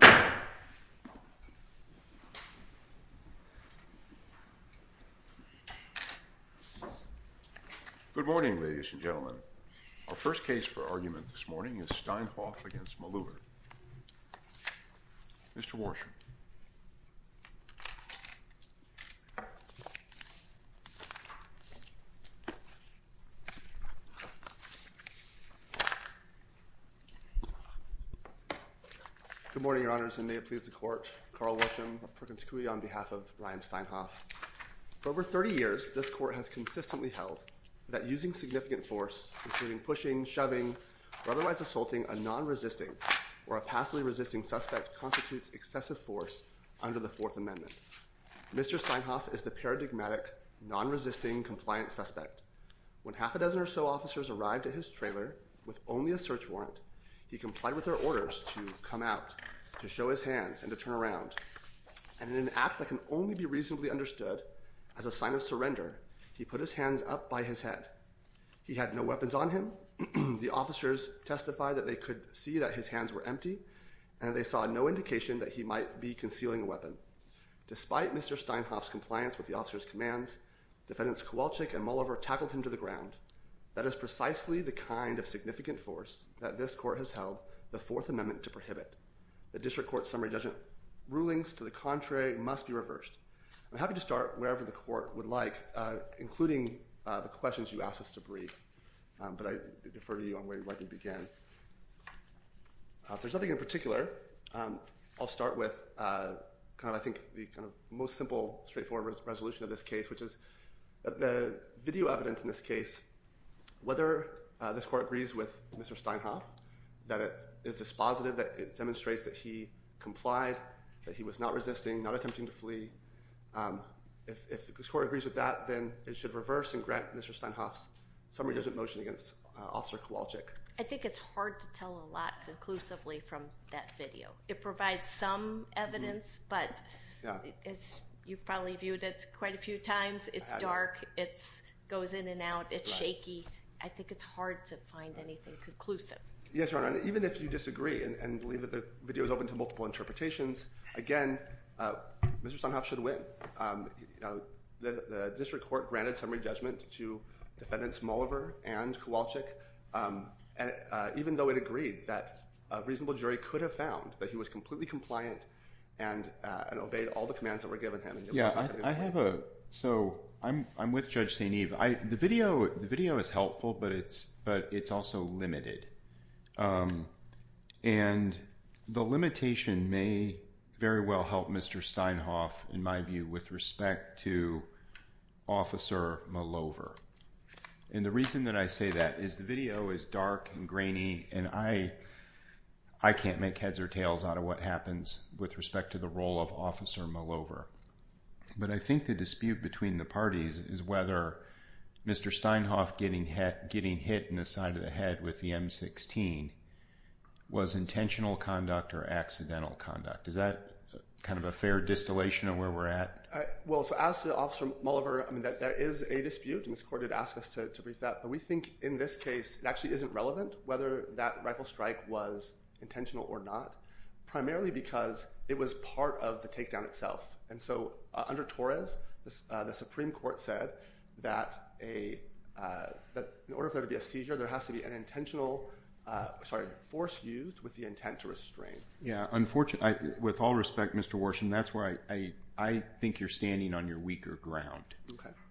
Good morning, ladies and gentlemen. Our first case for argument this morning is Steinhoff v. Malovrh. Mr. Worsham. Good morning, Your Honors, and may it please the Court, Carl Worsham of Perkins Coie, on behalf of Ryan Steinhoff. For over 30 years, this Court has consistently held that using significant force, including pushing, shoving, or otherwise assaulting a non-resisting or a passively resisting suspect constitutes excessive force under the Fourth Amendment. Mr. Steinhoff is the paradigmatic non-resisting compliant suspect. When half a dozen or so officers arrived at his trailer with only a search warrant, he complied with their orders to come out, to show his hands, and to turn around. And in an act that can only be reasonably understood as a sign of surrender, he put his hands up by his head. He had no weapons on him. The officers testified that they could see that his hands were empty and that they saw no indication that he might be concealing a weapon. Despite Mr. Steinhoff's compliance with the officers' commands, Defendants Kowalczyk and Malovrh tackled him to the ground. That is precisely the kind of significant force that this Court has held the Fourth Amendment to prohibit. The District Court's summary judgment rulings to the contrary must be reversed. I'm happy to start wherever the Court would like, including the questions you asked us to brief. But I defer to you on where you'd like me to begin. If there's nothing in particular, I'll start with kind of I think the kind of most simple straightforward resolution of this case, which is that the video evidence in this case, whether this Court agrees with Mr. Steinhoff, that it is dispositive, that it demonstrates that he complied, that he was not resisting, not attempting to flee, if this Court agrees with that, then it should reverse and grant Mr. Steinhoff's summary judgment motion against Officer Kowalczyk. I think it's hard to tell a lot conclusively from that video. It provides some evidence, but as you've probably viewed it quite a few times, it's dark, it goes in and out, it's shaky. I think it's hard to find anything conclusive. Yes, Your Honor. Even if you disagree and believe that the video is open to multiple interpretations, again, Mr. Steinhoff should win. The district court granted summary judgment to Defendants Molliver and Kowalczyk, even though it agreed that a reasonable jury could have found that he was completely compliant and obeyed all the commands that were given him. So I'm with Judge St. Eve. The video is helpful, but it's also limited. And the limitation may very well help Mr. Steinhoff, in my view, with respect to Officer Molliver. And the reason that I say that is the video is dark and grainy, and I can't make heads or tails out of what happens with respect to the role of Officer Molliver. But I think the dispute between the parties is whether Mr. Steinhoff getting hit in the side of the head with the M-16 was intentional conduct or accidental conduct. Is that kind of a fair distillation of where we're at? Well, so as to Officer Molliver, there is a dispute, and this court did ask us to brief that. But we think in this case, it actually isn't relevant whether that rifle strike was intentional or not, primarily because it was part of the takedown itself. And so under Torres, the Supreme Court said that in order for there to be a seizure, there has to be an intentional force used with the intent to restrain. With all respect, Mr. Worsham, that's where I think you're standing on your weaker ground.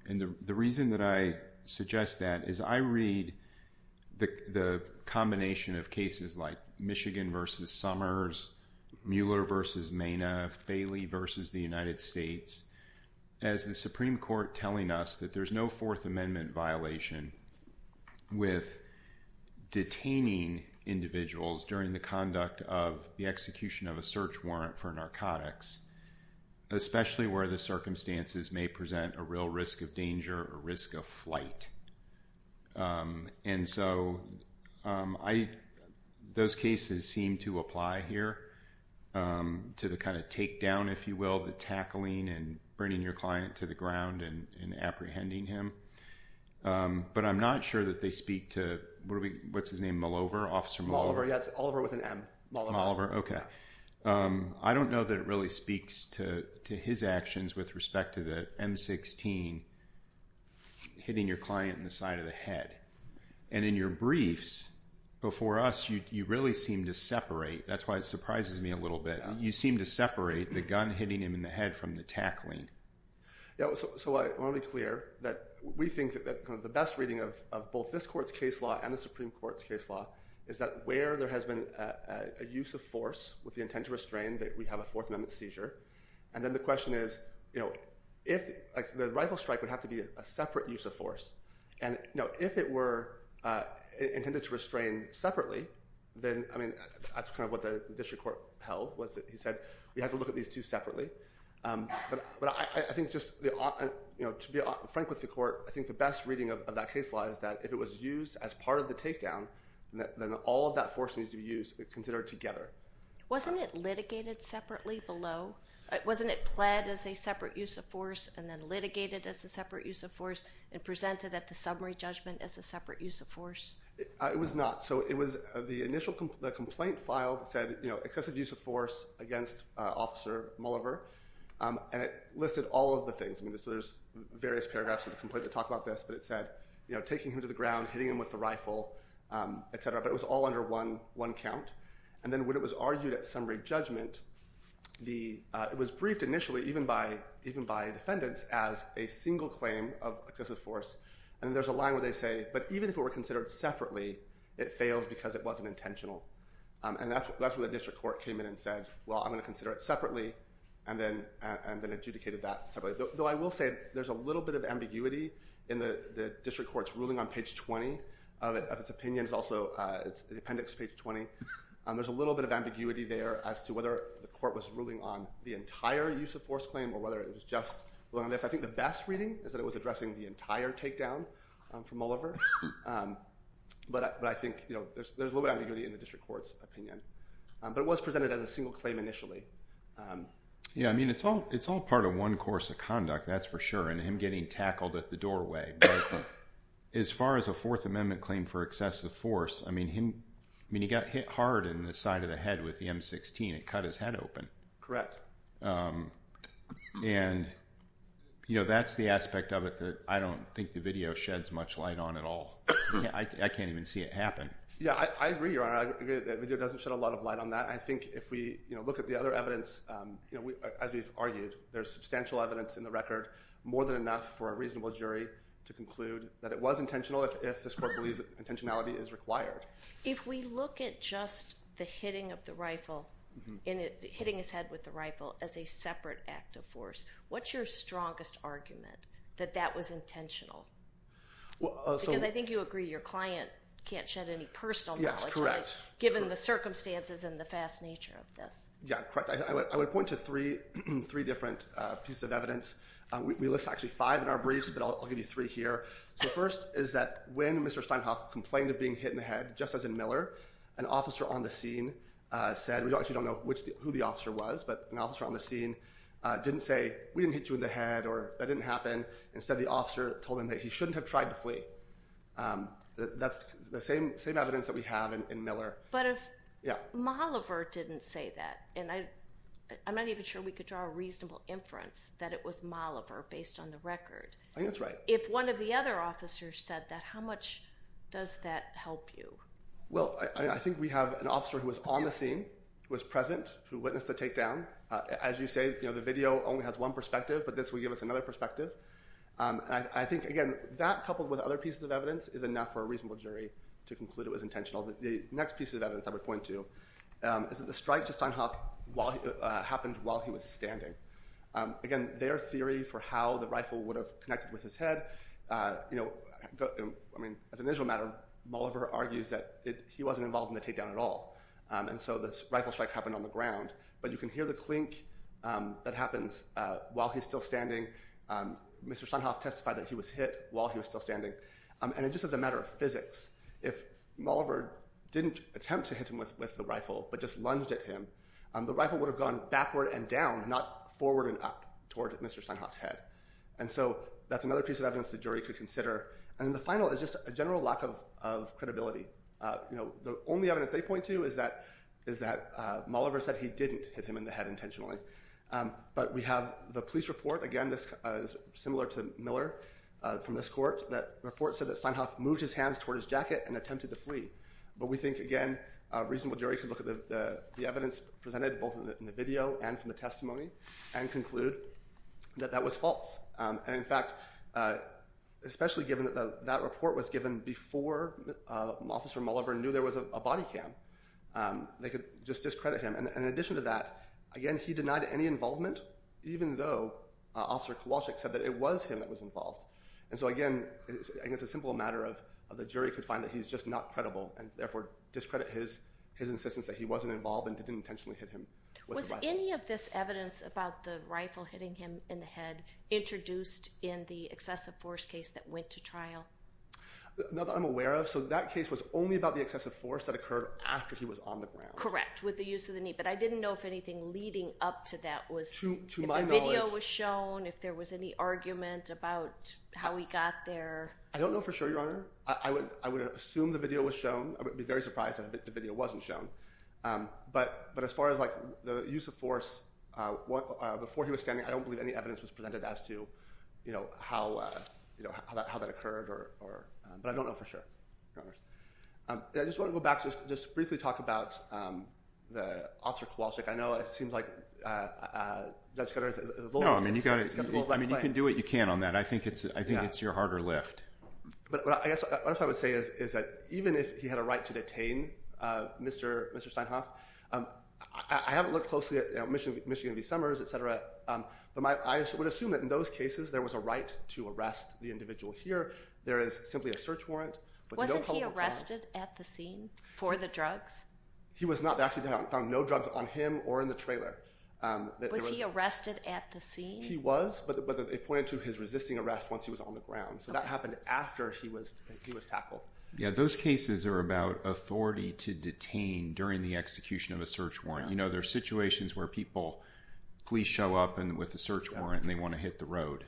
And the reason that I suggest that is I read the combination of cases like Michigan versus Summers, Mueller versus Mayniff, Bailey versus the United States, as the Supreme Court telling us that there's no Fourth Amendment violation with detaining individuals during the conduct of the execution of a search warrant for narcotics, especially where the circumstances may present a real risk of danger or risk of flight. And so those cases seem to apply here to the kind of takedown, if you will, the tackling and bringing your client to the ground and apprehending him. But I'm not sure that they speak to, what's his name, Molliver, Officer Molliver? Molliver, yes. Molliver with an M. Molliver. Okay. I don't know that it really speaks to his actions with respect to the M16 hitting your client in the side of the head. And in your briefs before us, you really seem to separate, that's why it surprises me a little bit, you seem to separate the gun hitting him in the head from the tackling. So I want to be clear that we think that the best reading of both this court's case law and the Supreme Court's case law is that where there has been a use of force with the intent to restrain that we have a Fourth Amendment seizure. And then the question is, if the rifle strike would have to be a separate use of force, and if it were intended to restrain separately, then, I mean, that's kind of what the district court held, was that he said, we have to look at these two separately. But I think just to be frank with the court, I think the best reading of that case law is that if it was used as part of the takedown, then all of that force needs to be used, considered together. Wasn't it litigated separately below? Wasn't it pled as a separate use of force and then litigated as a separate use of force and presented at the summary judgment as a separate use of force? It was not. So it was the initial complaint file that said excessive use of force against Officer Mulliver. And it listed all of the things, I mean, there's various paragraphs of the complaint that talk about this, but it said, taking him to the ground, hitting him with the rifle, et cetera, but it was all under one count. And then when it was argued at summary judgment, it was briefed initially even by defendants as a single claim of excessive force. And there's a line where they say, but even if it were considered separately, it fails because it wasn't intentional. And that's where the district court came in and said, well, I'm going to consider it separately and then adjudicated that separately. Though I will say, there's a little bit of ambiguity in the district court's ruling on page 20 of its opinion, it's also the appendix, page 20. There's a little bit of ambiguity there as to whether the court was ruling on the entire use of force claim or whether it was just ruling on this. I think the best reading is that it was addressing the entire takedown from Mulliver. But I think there's a little bit of ambiguity in the district court's opinion. But it was presented as a single claim initially. Yeah. I mean, it's all part of one course of conduct, that's for sure, and him getting tackled at the doorway. But as far as a Fourth Amendment claim for excessive force, I mean, he got hit hard in the side of the head with the M16. It cut his head open. And, you know, that's the aspect of it that I don't think the video sheds much light on at all. I can't even see it happen. Yeah. I agree, Your Honor. I agree that the video doesn't shed a lot of light on that. I think if we look at the other evidence, as we've argued, there's substantial evidence in the record, more than enough for a reasonable jury to conclude that it was intentional if this court believes intentionality is required. If we look at just the hitting of the rifle, hitting his head with the rifle, as a separate act of force, what's your strongest argument that that was intentional? Because I think you agree your client can't shed any personal knowledge, right, given the circumstances and the fast nature of this. Yeah. Correct. So I would point to three different pieces of evidence. We list actually five in our briefs, but I'll give you three here. So first is that when Mr. Steinhoff complained of being hit in the head, just as in Miller, an officer on the scene said, we actually don't know who the officer was, but an officer on the scene didn't say, we didn't hit you in the head, or that didn't happen. Instead, the officer told him that he shouldn't have tried to flee. That's the same evidence that we have in Miller. But if... Yeah. But if Molliver didn't say that, and I'm not even sure we could draw a reasonable inference that it was Molliver based on the record. I think that's right. If one of the other officers said that, how much does that help you? Well, I think we have an officer who was on the scene, who was present, who witnessed the takedown. As you say, the video only has one perspective, but this will give us another perspective. I think, again, that coupled with other pieces of evidence is enough for a reasonable jury to conclude it was intentional. The next piece of evidence I would point to is that the strike to Steinhoff happened while he was standing. Again, their theory for how the rifle would have connected with his head, I mean, as an initial matter, Molliver argues that he wasn't involved in the takedown at all, and so the rifle strike happened on the ground. But you can hear the clink that happens while he's still standing. Mr. Steinhoff testified that he was hit while he was still standing. And just as a matter of physics, if Molliver didn't attempt to hit him with the rifle but just lunged at him, the rifle would have gone backward and down, not forward and up toward Mr. Steinhoff's head. And so that's another piece of evidence the jury could consider. And the final is just a general lack of credibility. The only evidence they point to is that Molliver said he didn't hit him in the head intentionally. But we have the police report, again, this is similar to Miller from this court, that the report said that Steinhoff moved his hands toward his jacket and attempted to flee. But we think, again, a reasonable jury could look at the evidence presented, both in the video and from the testimony, and conclude that that was false. And in fact, especially given that that report was given before Officer Molliver knew there was a body cam, they could just discredit him. And in addition to that, again, he denied any involvement, even though Officer Kowalczyk said that it was him that was involved. And so again, it's a simple matter of the jury could find that he's just not credible and therefore discredit his insistence that he wasn't involved and didn't intentionally hit him with the rifle. Was any of this evidence about the rifle hitting him in the head introduced in the excessive force case that went to trial? Not that I'm aware of. So that case was only about the excessive force that occurred after he was on the ground. Correct. With the use of the knee. But I didn't know if anything leading up to that was, if the video was shown, if there was any argument about how he got there. I don't know for sure, Your Honor. I would assume the video was shown. I would be very surprised if the video wasn't shown. But as far as the use of force, before he was standing, I don't believe any evidence was presented as to how that occurred, but I don't know for sure, Your Honor. I just want to go back to just briefly talk about Officer Kowalczyk. I know it seems like that's kind of a low-level claim. No, I mean, you can do what you can on that. I think it's your harder lift. But I guess what I would say is that even if he had a right to detain Mr. Steinhoff, I haven't looked closely at Michigan v. Summers, et cetera, but I would assume that in those cases there was a right to arrest the individual here. There is simply a search warrant. Wasn't he arrested at the scene for the drugs? He was not. They actually found no drugs on him or in the trailer. Was he arrested at the scene? He was, but they pointed to his resisting arrest once he was on the ground. So that happened after he was tackled. Yeah, those cases are about authority to detain during the execution of a search warrant. You know, there are situations where people, police show up with a search warrant and they want to hit the road,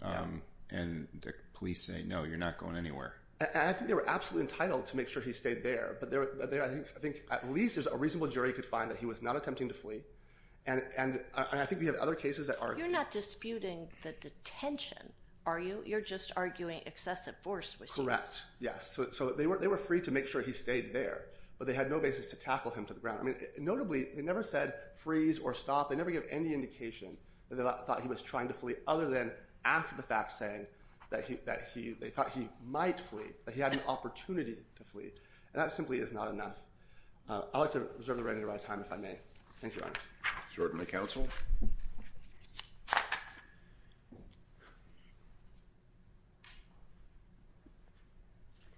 and the police say, no, you're not going anywhere. And I think they were absolutely entitled to make sure he stayed there, but I think at least there's a reasonable jury could find that he was not attempting to flee. And I think we have other cases that are- You're not disputing the detention, are you? You're just arguing excessive force was used. Correct, yes. So they were free to make sure he stayed there, but they had no basis to tackle him to the ground. Notably, they never said freeze or stop. They never give any indication that they thought he was trying to flee other than after the fact saying that they thought he might flee, that he had an opportunity to flee, and that simply is not enough. I'd like to reserve the rest of my time, if I may. Thank you, Your Honor. Is there any counsel?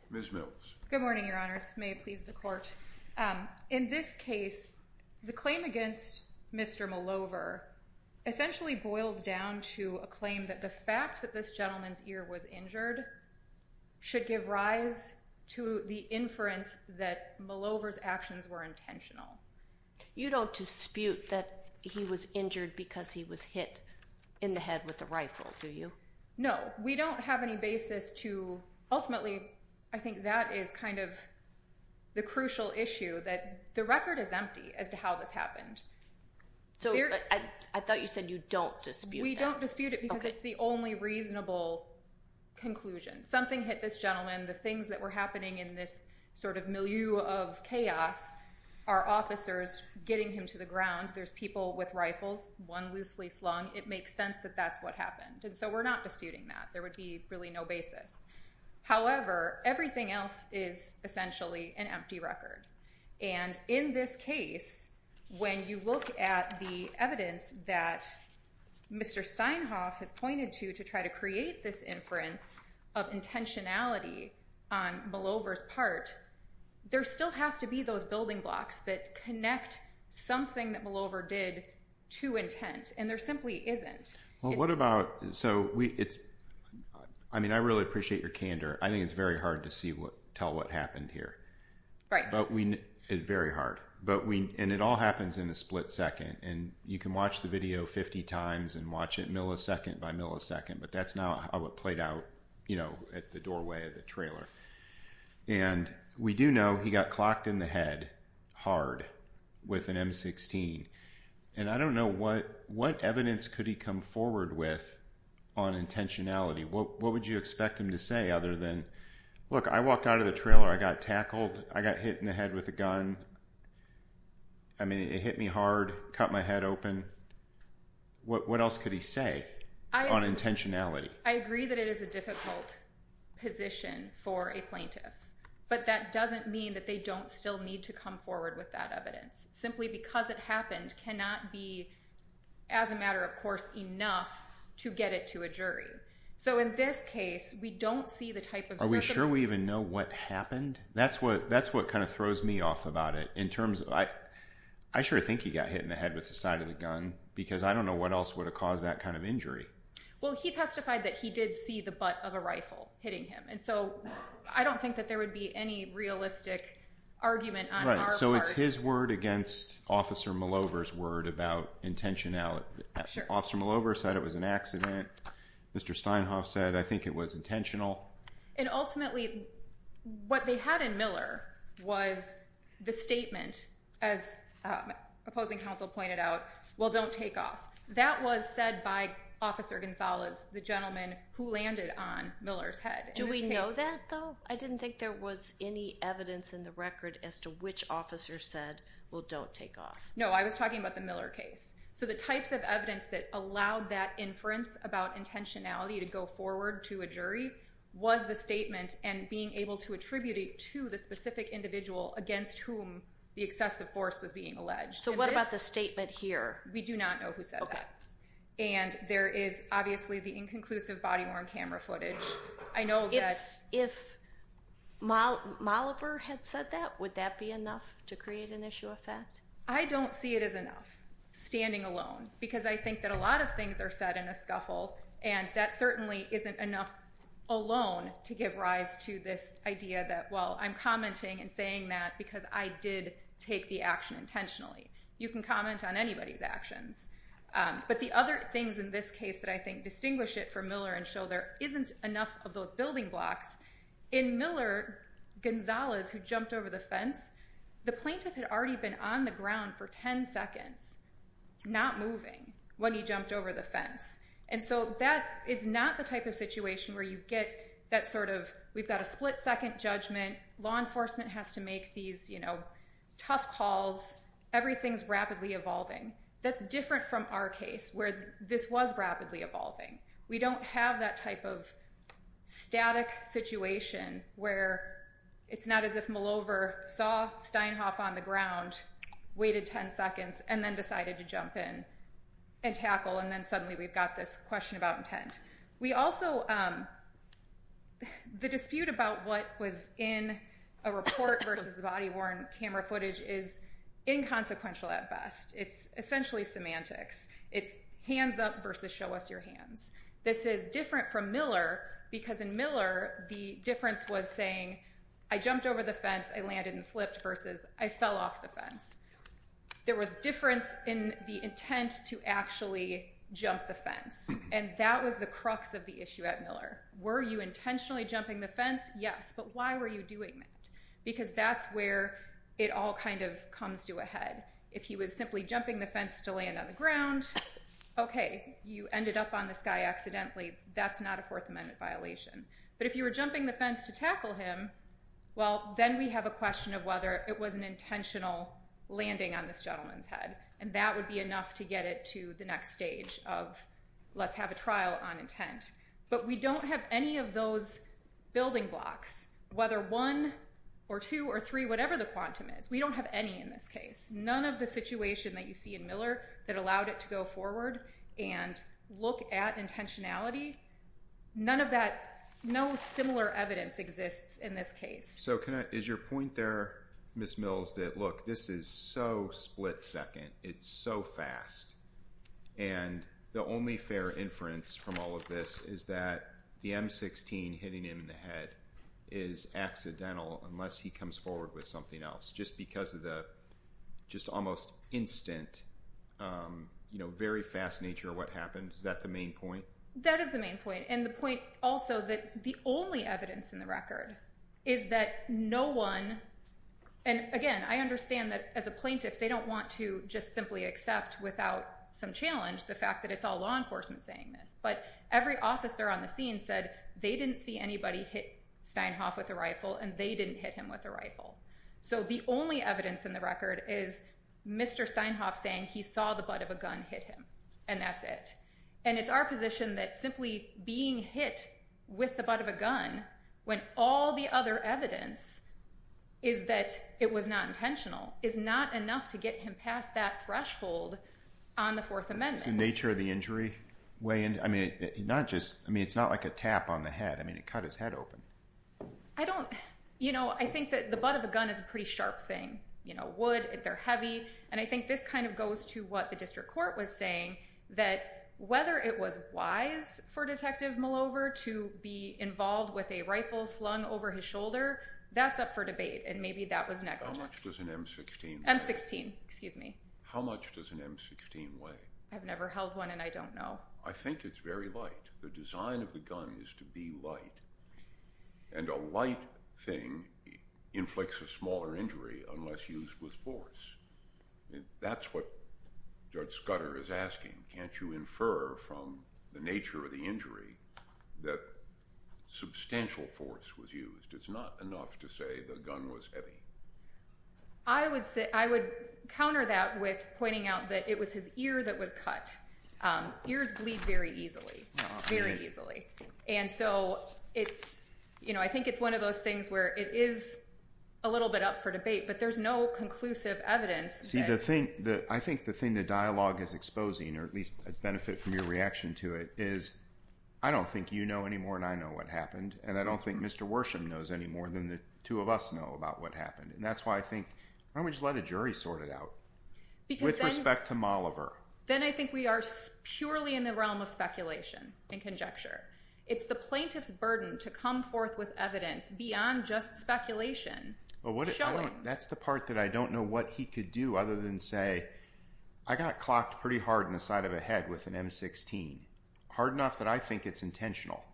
Ms. Mills. Good morning, Your Honor. This may please the court. In this case, the claim against Mr. Malover essentially boils down to a claim that the fact that this gentleman's ear was injured should give rise to the inference that Malover's actions were intentional. You don't dispute that he was injured because he was hit in the head with a rifle, do you? No. We don't have any basis to- Ultimately, I think that is kind of the crucial issue that the record is empty as to how this happened. So I thought you said you don't dispute that. I don't dispute it because it's the only reasonable conclusion. Something hit this gentleman. The things that were happening in this sort of milieu of chaos are officers getting him to the ground. There's people with rifles, one loosely slung. It makes sense that that's what happened, and so we're not disputing that. There would be really no basis. However, everything else is essentially an empty record, and in this case, when you look at the evidence that Mr. Steinhoff has pointed to to try to create this inference of intentionality on Malover's part, there still has to be those building blocks that connect something that Malover did to intent, and there simply isn't. Well, what about- I mean, I really appreciate your candor. I think it's very hard to tell what happened here. Right. It's very hard, and it all happens in a split second, and you can watch the video 50 times and watch it millisecond by millisecond, but that's not how it played out at the doorway of the trailer, and we do know he got clocked in the head hard with an M16, and I don't know what evidence could he come forward with on intentionality. What would you expect him to say other than, look, I walked out of the trailer, I got tackled, I got hit in the head with a gun, I mean, it hit me hard, cut my head open. What else could he say on intentionality? I agree that it is a difficult position for a plaintiff, but that doesn't mean that they don't still need to come forward with that evidence. Simply because it happened cannot be, as a matter of course, enough to get it to a jury. So in this case, we don't see the type of- Are we sure we even know what happened? That's what kind of throws me off about it, in terms of, I sure think he got hit in the head with the side of the gun, because I don't know what else would have caused that kind of injury. Well, he testified that he did see the butt of a rifle hitting him, and so I don't think that there would be any realistic argument on our part. So it's his word against Officer Malover's word about intentionality. Officer Malover said it was an accident, Mr. Steinhoff said I think it was intentional. And ultimately, what they had in Miller was the statement, as opposing counsel pointed out, well, don't take off. That was said by Officer Gonzalez, the gentleman who landed on Miller's head. Do we know that, though? I didn't think there was any evidence in the record as to which officer said, well, don't take off. No, I was talking about the Miller case. So the types of evidence that allowed that inference about intentionality to go forward to a jury was the statement and being able to attribute it to the specific individual against whom the excessive force was being alleged. So what about the statement here? We do not know who said that. And there is obviously the inconclusive body-worn camera footage. I know that— If Malover had said that, would that be enough to create an issue of fact? I don't see it as enough, standing alone, because I think that a lot of things are said in a scuffle, and that certainly isn't enough alone to give rise to this idea that, well, I'm commenting and saying that because I did take the action intentionally. You can comment on anybody's actions. But the other things in this case that I think distinguish it from Miller and show there isn't enough of those building blocks, in Miller, Gonzalez, who jumped over the fence, the plaintiff had already been on the ground for 10 seconds, not moving, when he jumped over the fence. And so that is not the type of situation where you get that sort of, we've got a split-second judgment, law enforcement has to make these tough calls, everything's rapidly evolving. That's different from our case, where this was rapidly evolving. We don't have that type of static situation where it's not as if Malover saw Steinhoff on the ground, waited 10 seconds, and then decided to jump in and tackle, and then suddenly we've got this question about intent. We also, the dispute about what was in a report versus the body-worn camera footage is inconsequential at best. It's essentially semantics. It's hands up versus show us your hands. This is different from Miller, because in Miller, the difference was saying, I jumped over the fence, I landed and slipped, versus I fell off the fence. There was difference in the intent to actually jump the fence, and that was the crux of the issue at Miller. Were you intentionally jumping the fence? Yes. But why were you doing that? Because that's where it all kind of comes to a head. If he was simply jumping the fence to land on the ground, okay, you ended up on this guy accidentally. That's not a Fourth Amendment violation. But if you were jumping the fence to tackle him, well, then we have a question of whether it was an intentional landing on this gentleman's head, and that would be enough to get it to the next stage of let's have a trial on intent. But we don't have any of those building blocks, whether one or two or three, whatever the quantum is. We don't have any in this case. None of the situation that you see in Miller that allowed it to go forward and look at intentionality, none of that, no similar evidence exists in this case. So is your point there, Ms. Mills, that look, this is so split second, it's so fast, and the only fair inference from all of this is that the M-16 hitting him in the head is accidental unless he comes forward with something else, just because of the just almost instant, very fast nature of what happened. Is that the main point? That is the main point, and the point also that the only evidence in the record is that no one, and again, I understand that as a plaintiff, they don't want to just simply accept without some challenge the fact that it's all law enforcement saying this, but every officer on the scene said they didn't see anybody hit Steinhoff with a rifle, and they didn't hit him with a rifle. So the only evidence in the record is Mr. Steinhoff saying he saw the butt of a gun hit him, and that's it. And it's our position that simply being hit with the butt of a gun when all the other evidence is that it was not intentional is not enough to get him past that threshold on the Fourth Amendment. What's the nature of the injury weigh in, I mean, not just, I mean, it's not like a tap on the head, I mean, it cut his head open. I don't, you know, I think that the butt of a gun is a pretty sharp thing, you know, wood, they're heavy, and I think this kind of goes to what the district court was saying that whether it was wise for Detective Malover to be involved with a rifle slung over his shoulder, that's up for debate, and maybe that was negligent. How much does an M16 weigh? How much does an M16 weigh? I've never held one, and I don't know. I think it's very light. The design of the gun is to be light, and a light thing inflicts a smaller injury unless used with force. That's what Judge Scudder is asking, can't you infer from the nature of the injury that substantial force was used? It's not enough to say the gun was heavy. I would say, I would counter that with pointing out that it was his ear that was cut. Ears bleed very easily, very easily. And so it's, you know, I think it's one of those things where it is a little bit up for debate, but there's no conclusive evidence. See, I think the thing the dialogue is exposing, or at least a benefit from your reaction to it is, I don't think you know any more than I know what happened, and I don't think Mr. Worsham knows any more than the two of us know about what happened. And that's why I think, why don't we just let a jury sort it out, with respect to Malover. Then I think we are purely in the realm of speculation and conjecture. It's the plaintiff's burden to come forth with evidence beyond just speculation, showing. That's the part that I don't know what he could do other than say, I got clocked pretty hard in the side of the head with an M16. Hard enough that I think it's intentional.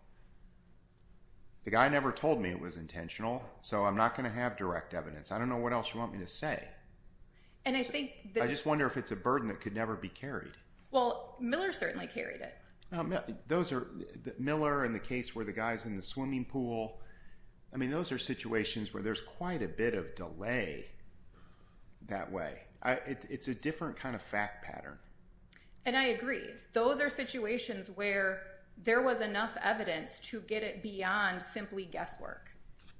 The guy never told me it was intentional, so I'm not going to have direct evidence. I don't know what else you want me to say. And I think that... I just wonder if it's a burden that could never be carried. Well, Miller certainly carried it. Those are, Miller and the case where the guy's in the swimming pool, I mean, those are situations where there's quite a bit of delay that way. It's a different kind of fact pattern. And I agree. Those are situations where there was enough evidence to get it beyond simply guesswork.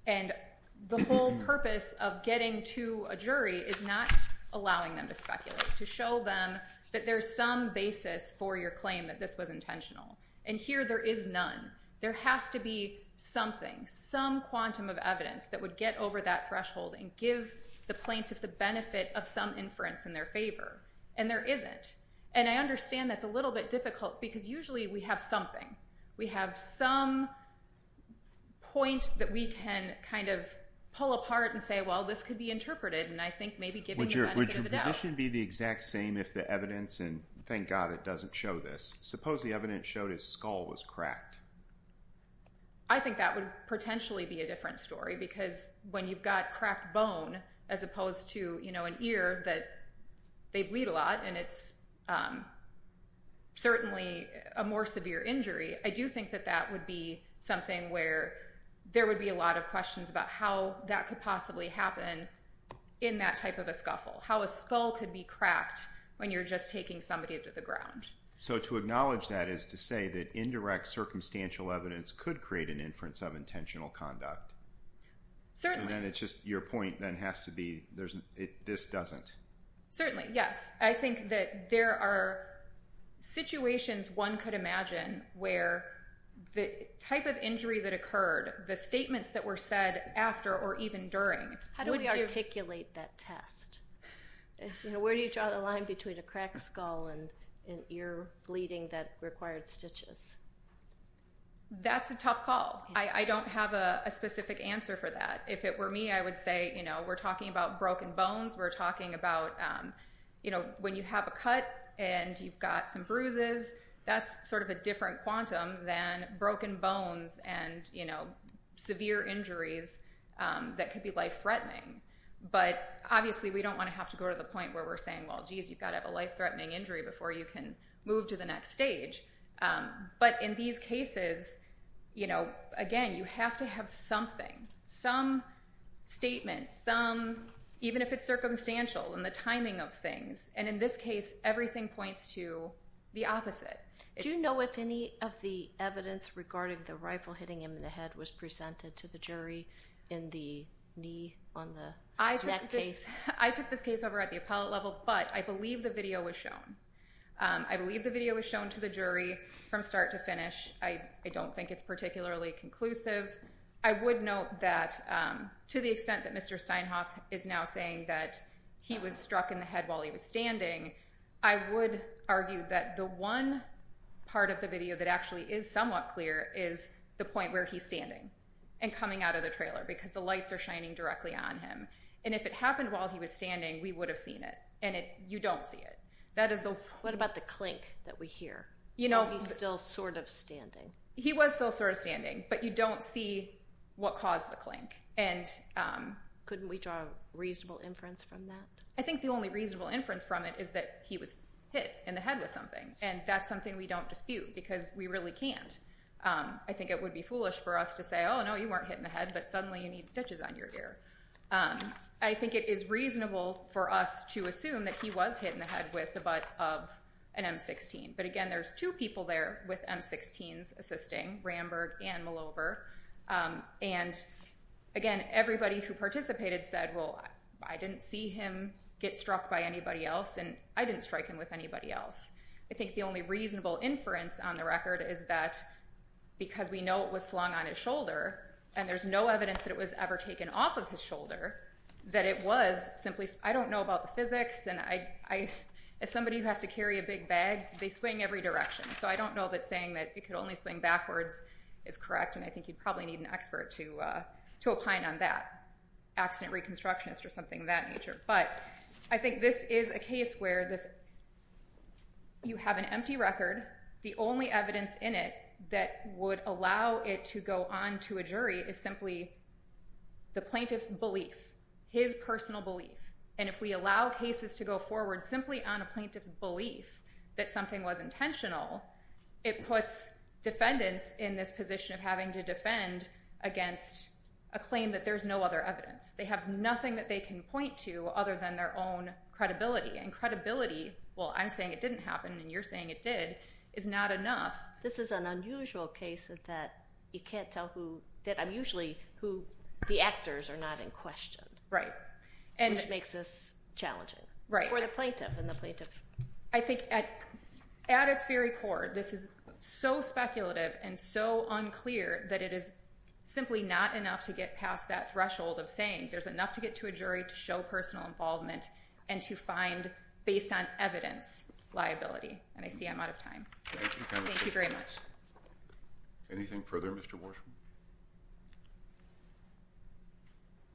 And the whole purpose of getting to a jury is not allowing them to speculate. To show them that there's some basis for your claim that this was intentional. And here there is none. There has to be something, some quantum of evidence that would get over that threshold and give the plaintiff the benefit of some inference in their favor. And there isn't. And I understand that's a little bit difficult because usually we have something. We have some point that we can kind of pull apart and say, well, this could be interpreted. And I think maybe giving the benefit of the doubt. Would your position be the exact same if the evidence, and thank God it doesn't show this, suppose the evidence showed his skull was cracked? I think that would potentially be a different story. Because when you've got cracked bone, as opposed to an ear that they bleed a lot and it's certainly a more severe injury, I do think that that would be something where there would be a lot of questions about how that could possibly happen in that type of a scuffle. How a skull could be cracked when you're just taking somebody to the ground. So to acknowledge that is to say that indirect circumstantial evidence could create an inference of intentional conduct. Certainly. And it's just your point then has to be, this doesn't. Certainly. Yes. I think that there are situations one could imagine where the type of injury that occurred, the statements that were said after or even during. How do we articulate that test? Where do you draw the line between a cracked skull and an ear bleeding that required stitches? That's a tough call. I don't have a specific answer for that. If it were me, I would say, you know, we're talking about broken bones. We're talking about, you know, when you have a cut and you've got some bruises, that's sort of a different quantum than broken bones and, you know, severe injuries that could be life threatening. But obviously we don't want to have to go to the point where we're saying, well, geez, you've got to have a life threatening injury before you can move to the next stage. But in these cases, you know, again, you have to have something, some statement, some, even if it's circumstantial and the timing of things. And in this case, everything points to the opposite. Do you know if any of the evidence regarding the rifle hitting him in the head was presented to the jury in the knee on the neck case? I took this case over at the appellate level, but I believe the video was shown. I believe the video was shown to the jury from start to finish. I don't think it's particularly conclusive. I would note that to the extent that Mr. Steinhoff is now saying that he was struck in the head while he was standing, I would argue that the one part of the video that actually is somewhat clear is the point where he's standing and coming out of the trailer because the lights are shining directly on him. And if it happened while he was standing, we would have seen it. And you don't see it. That is the what about the clink that we hear? You know, he's still sort of standing. He was still sort of standing. But you don't see what caused the clink. And couldn't we draw a reasonable inference from that? I think the only reasonable inference from it is that he was hit in the head with something. And that's something we don't dispute because we really can't. I think it would be foolish for us to say, oh, no, you weren't hit in the head. But suddenly you need stitches on your ear. I think it is reasonable for us to assume that he was hit in the head with the butt of an M-16. But again, there's two people there with M-16s assisting, Ramberg and Malover. And again, everybody who participated said, well, I didn't see him get struck by anybody else. And I didn't strike him with anybody else. I think the only reasonable inference on the record is that because we know it was slung on his shoulder, and there's no evidence that it was ever taken off of his shoulder, that it was simply I don't know about the physics. And as somebody who has to carry a big bag, they swing every direction. So I don't know that saying that it could only swing backwards is correct. And I think you'd probably need an expert to opine on that, accident reconstructionist or something of that nature. But I think this is a case where you have an empty record. The only evidence in it that would allow it to go on to a jury is simply the plaintiff's belief, his personal belief. And if we allow cases to go forward simply on a plaintiff's belief that something was intentional, it puts defendants in this position of having to defend against a claim that there's no other evidence. They have nothing that they can point to other than their own credibility. And credibility, well, I'm saying it didn't happen and you're saying it did, is not enough. This is an unusual case that you can't tell who did. I'm usually who the actors are not in question. Right. Which makes this challenging for the plaintiff and the plaintiff. I think at its very core, this is so speculative and so unclear that it is simply not enough to get past that threshold of saying there's enough to get to a jury to show personal involvement and to find, based on evidence, liability. And I see I'm out of time. Thank you very much. Anything further, Mr. Warsham?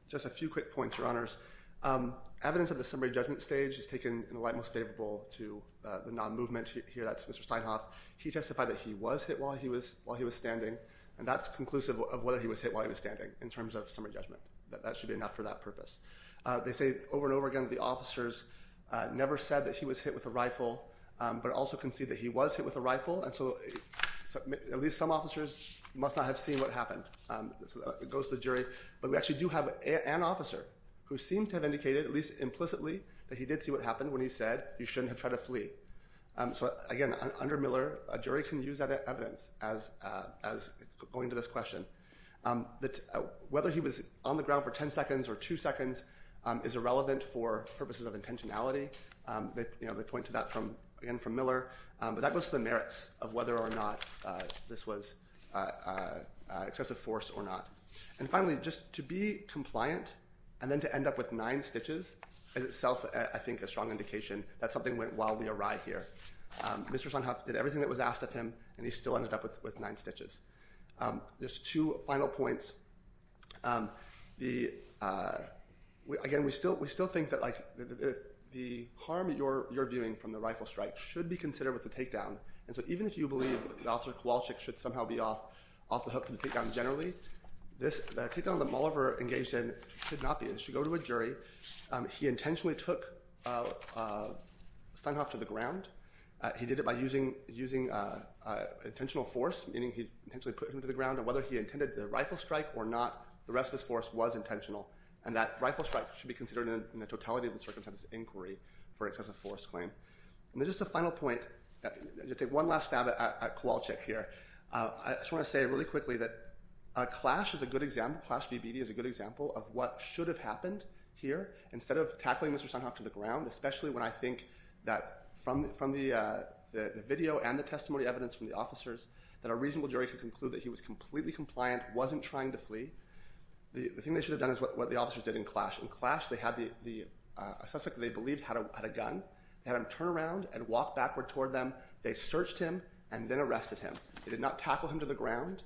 Just a few quick points, Your Honors. Evidence of the summary judgment stage is taken in the light most favorable to the non-movement here. That's Mr. Steinhoff. He testified that he was hit while he was standing, and that's conclusive of whether he was hit while he was standing in terms of summary judgment. That should be enough for that purpose. They say over and over again, the officers never said that he was hit with a rifle, but also can see that he was hit with a rifle. And so at least some officers must not have seen what happened. So it goes to the jury. But we actually do have an officer who seemed to have indicated, at least implicitly, that he did see what happened when he said you shouldn't have tried to flee. So, again, under Miller, a jury can use that evidence as going to this question. That whether he was on the ground for 10 seconds or two seconds is irrelevant for purposes of intentionality. They point to that from Miller. But that goes to the merits of whether or not this was excessive force or not. And finally, just to be compliant and then to end up with nine stitches is itself, I think, a strong indication that something went while we arrived here. Mr. Steinhoff did everything that was asked of him, and he still ended up with nine stitches. Just two final points. Again, we still think that the harm you're viewing from the rifle strike should be considered with the takedown. And so even if you believe that Officer Kowalczyk should somehow be off the hook for the takedown generally, this takedown that Molliver engaged in should not be. It should go to a jury. He intentionally took Steinhoff to the ground. He did it by using intentional force, meaning he intentionally put him to the ground. And whether he intended the rifle strike or not, the rest of his force was intentional. And that rifle strike should be considered in the totality of the circumstances inquiry for excessive force claim. And then just a final point, just one last stab at Kowalczyk here. I just want to say really quickly that a clash is a good example. Clash VBD is a good example of what should have happened here instead of tackling Mr. Steinhoff to the ground. Especially when I think that from the video and the testimony evidence from the officers, that a reasonable jury could conclude that he was completely compliant, wasn't trying to flee. The thing they should have done is what the officers did in clash. In clash, they had a suspect they believed had a gun. They had him turn around and walk backward toward them. They searched him and then arrested him. They did not tackle him to the ground.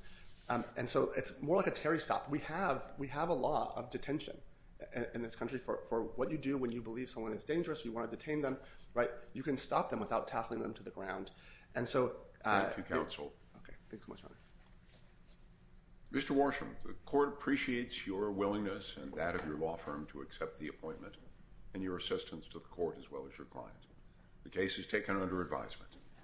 And so it's more like a Terry stop. We have we have a law of detention in this country for what you do when you believe someone is dangerous. You want to detain them. Right. You can stop them without tackling them to the ground. And so to counsel. Mr. Worsham, the court appreciates your willingness and that of your law firm to accept the appointment and your assistance to the court as well as your client. The case is taken under advisement.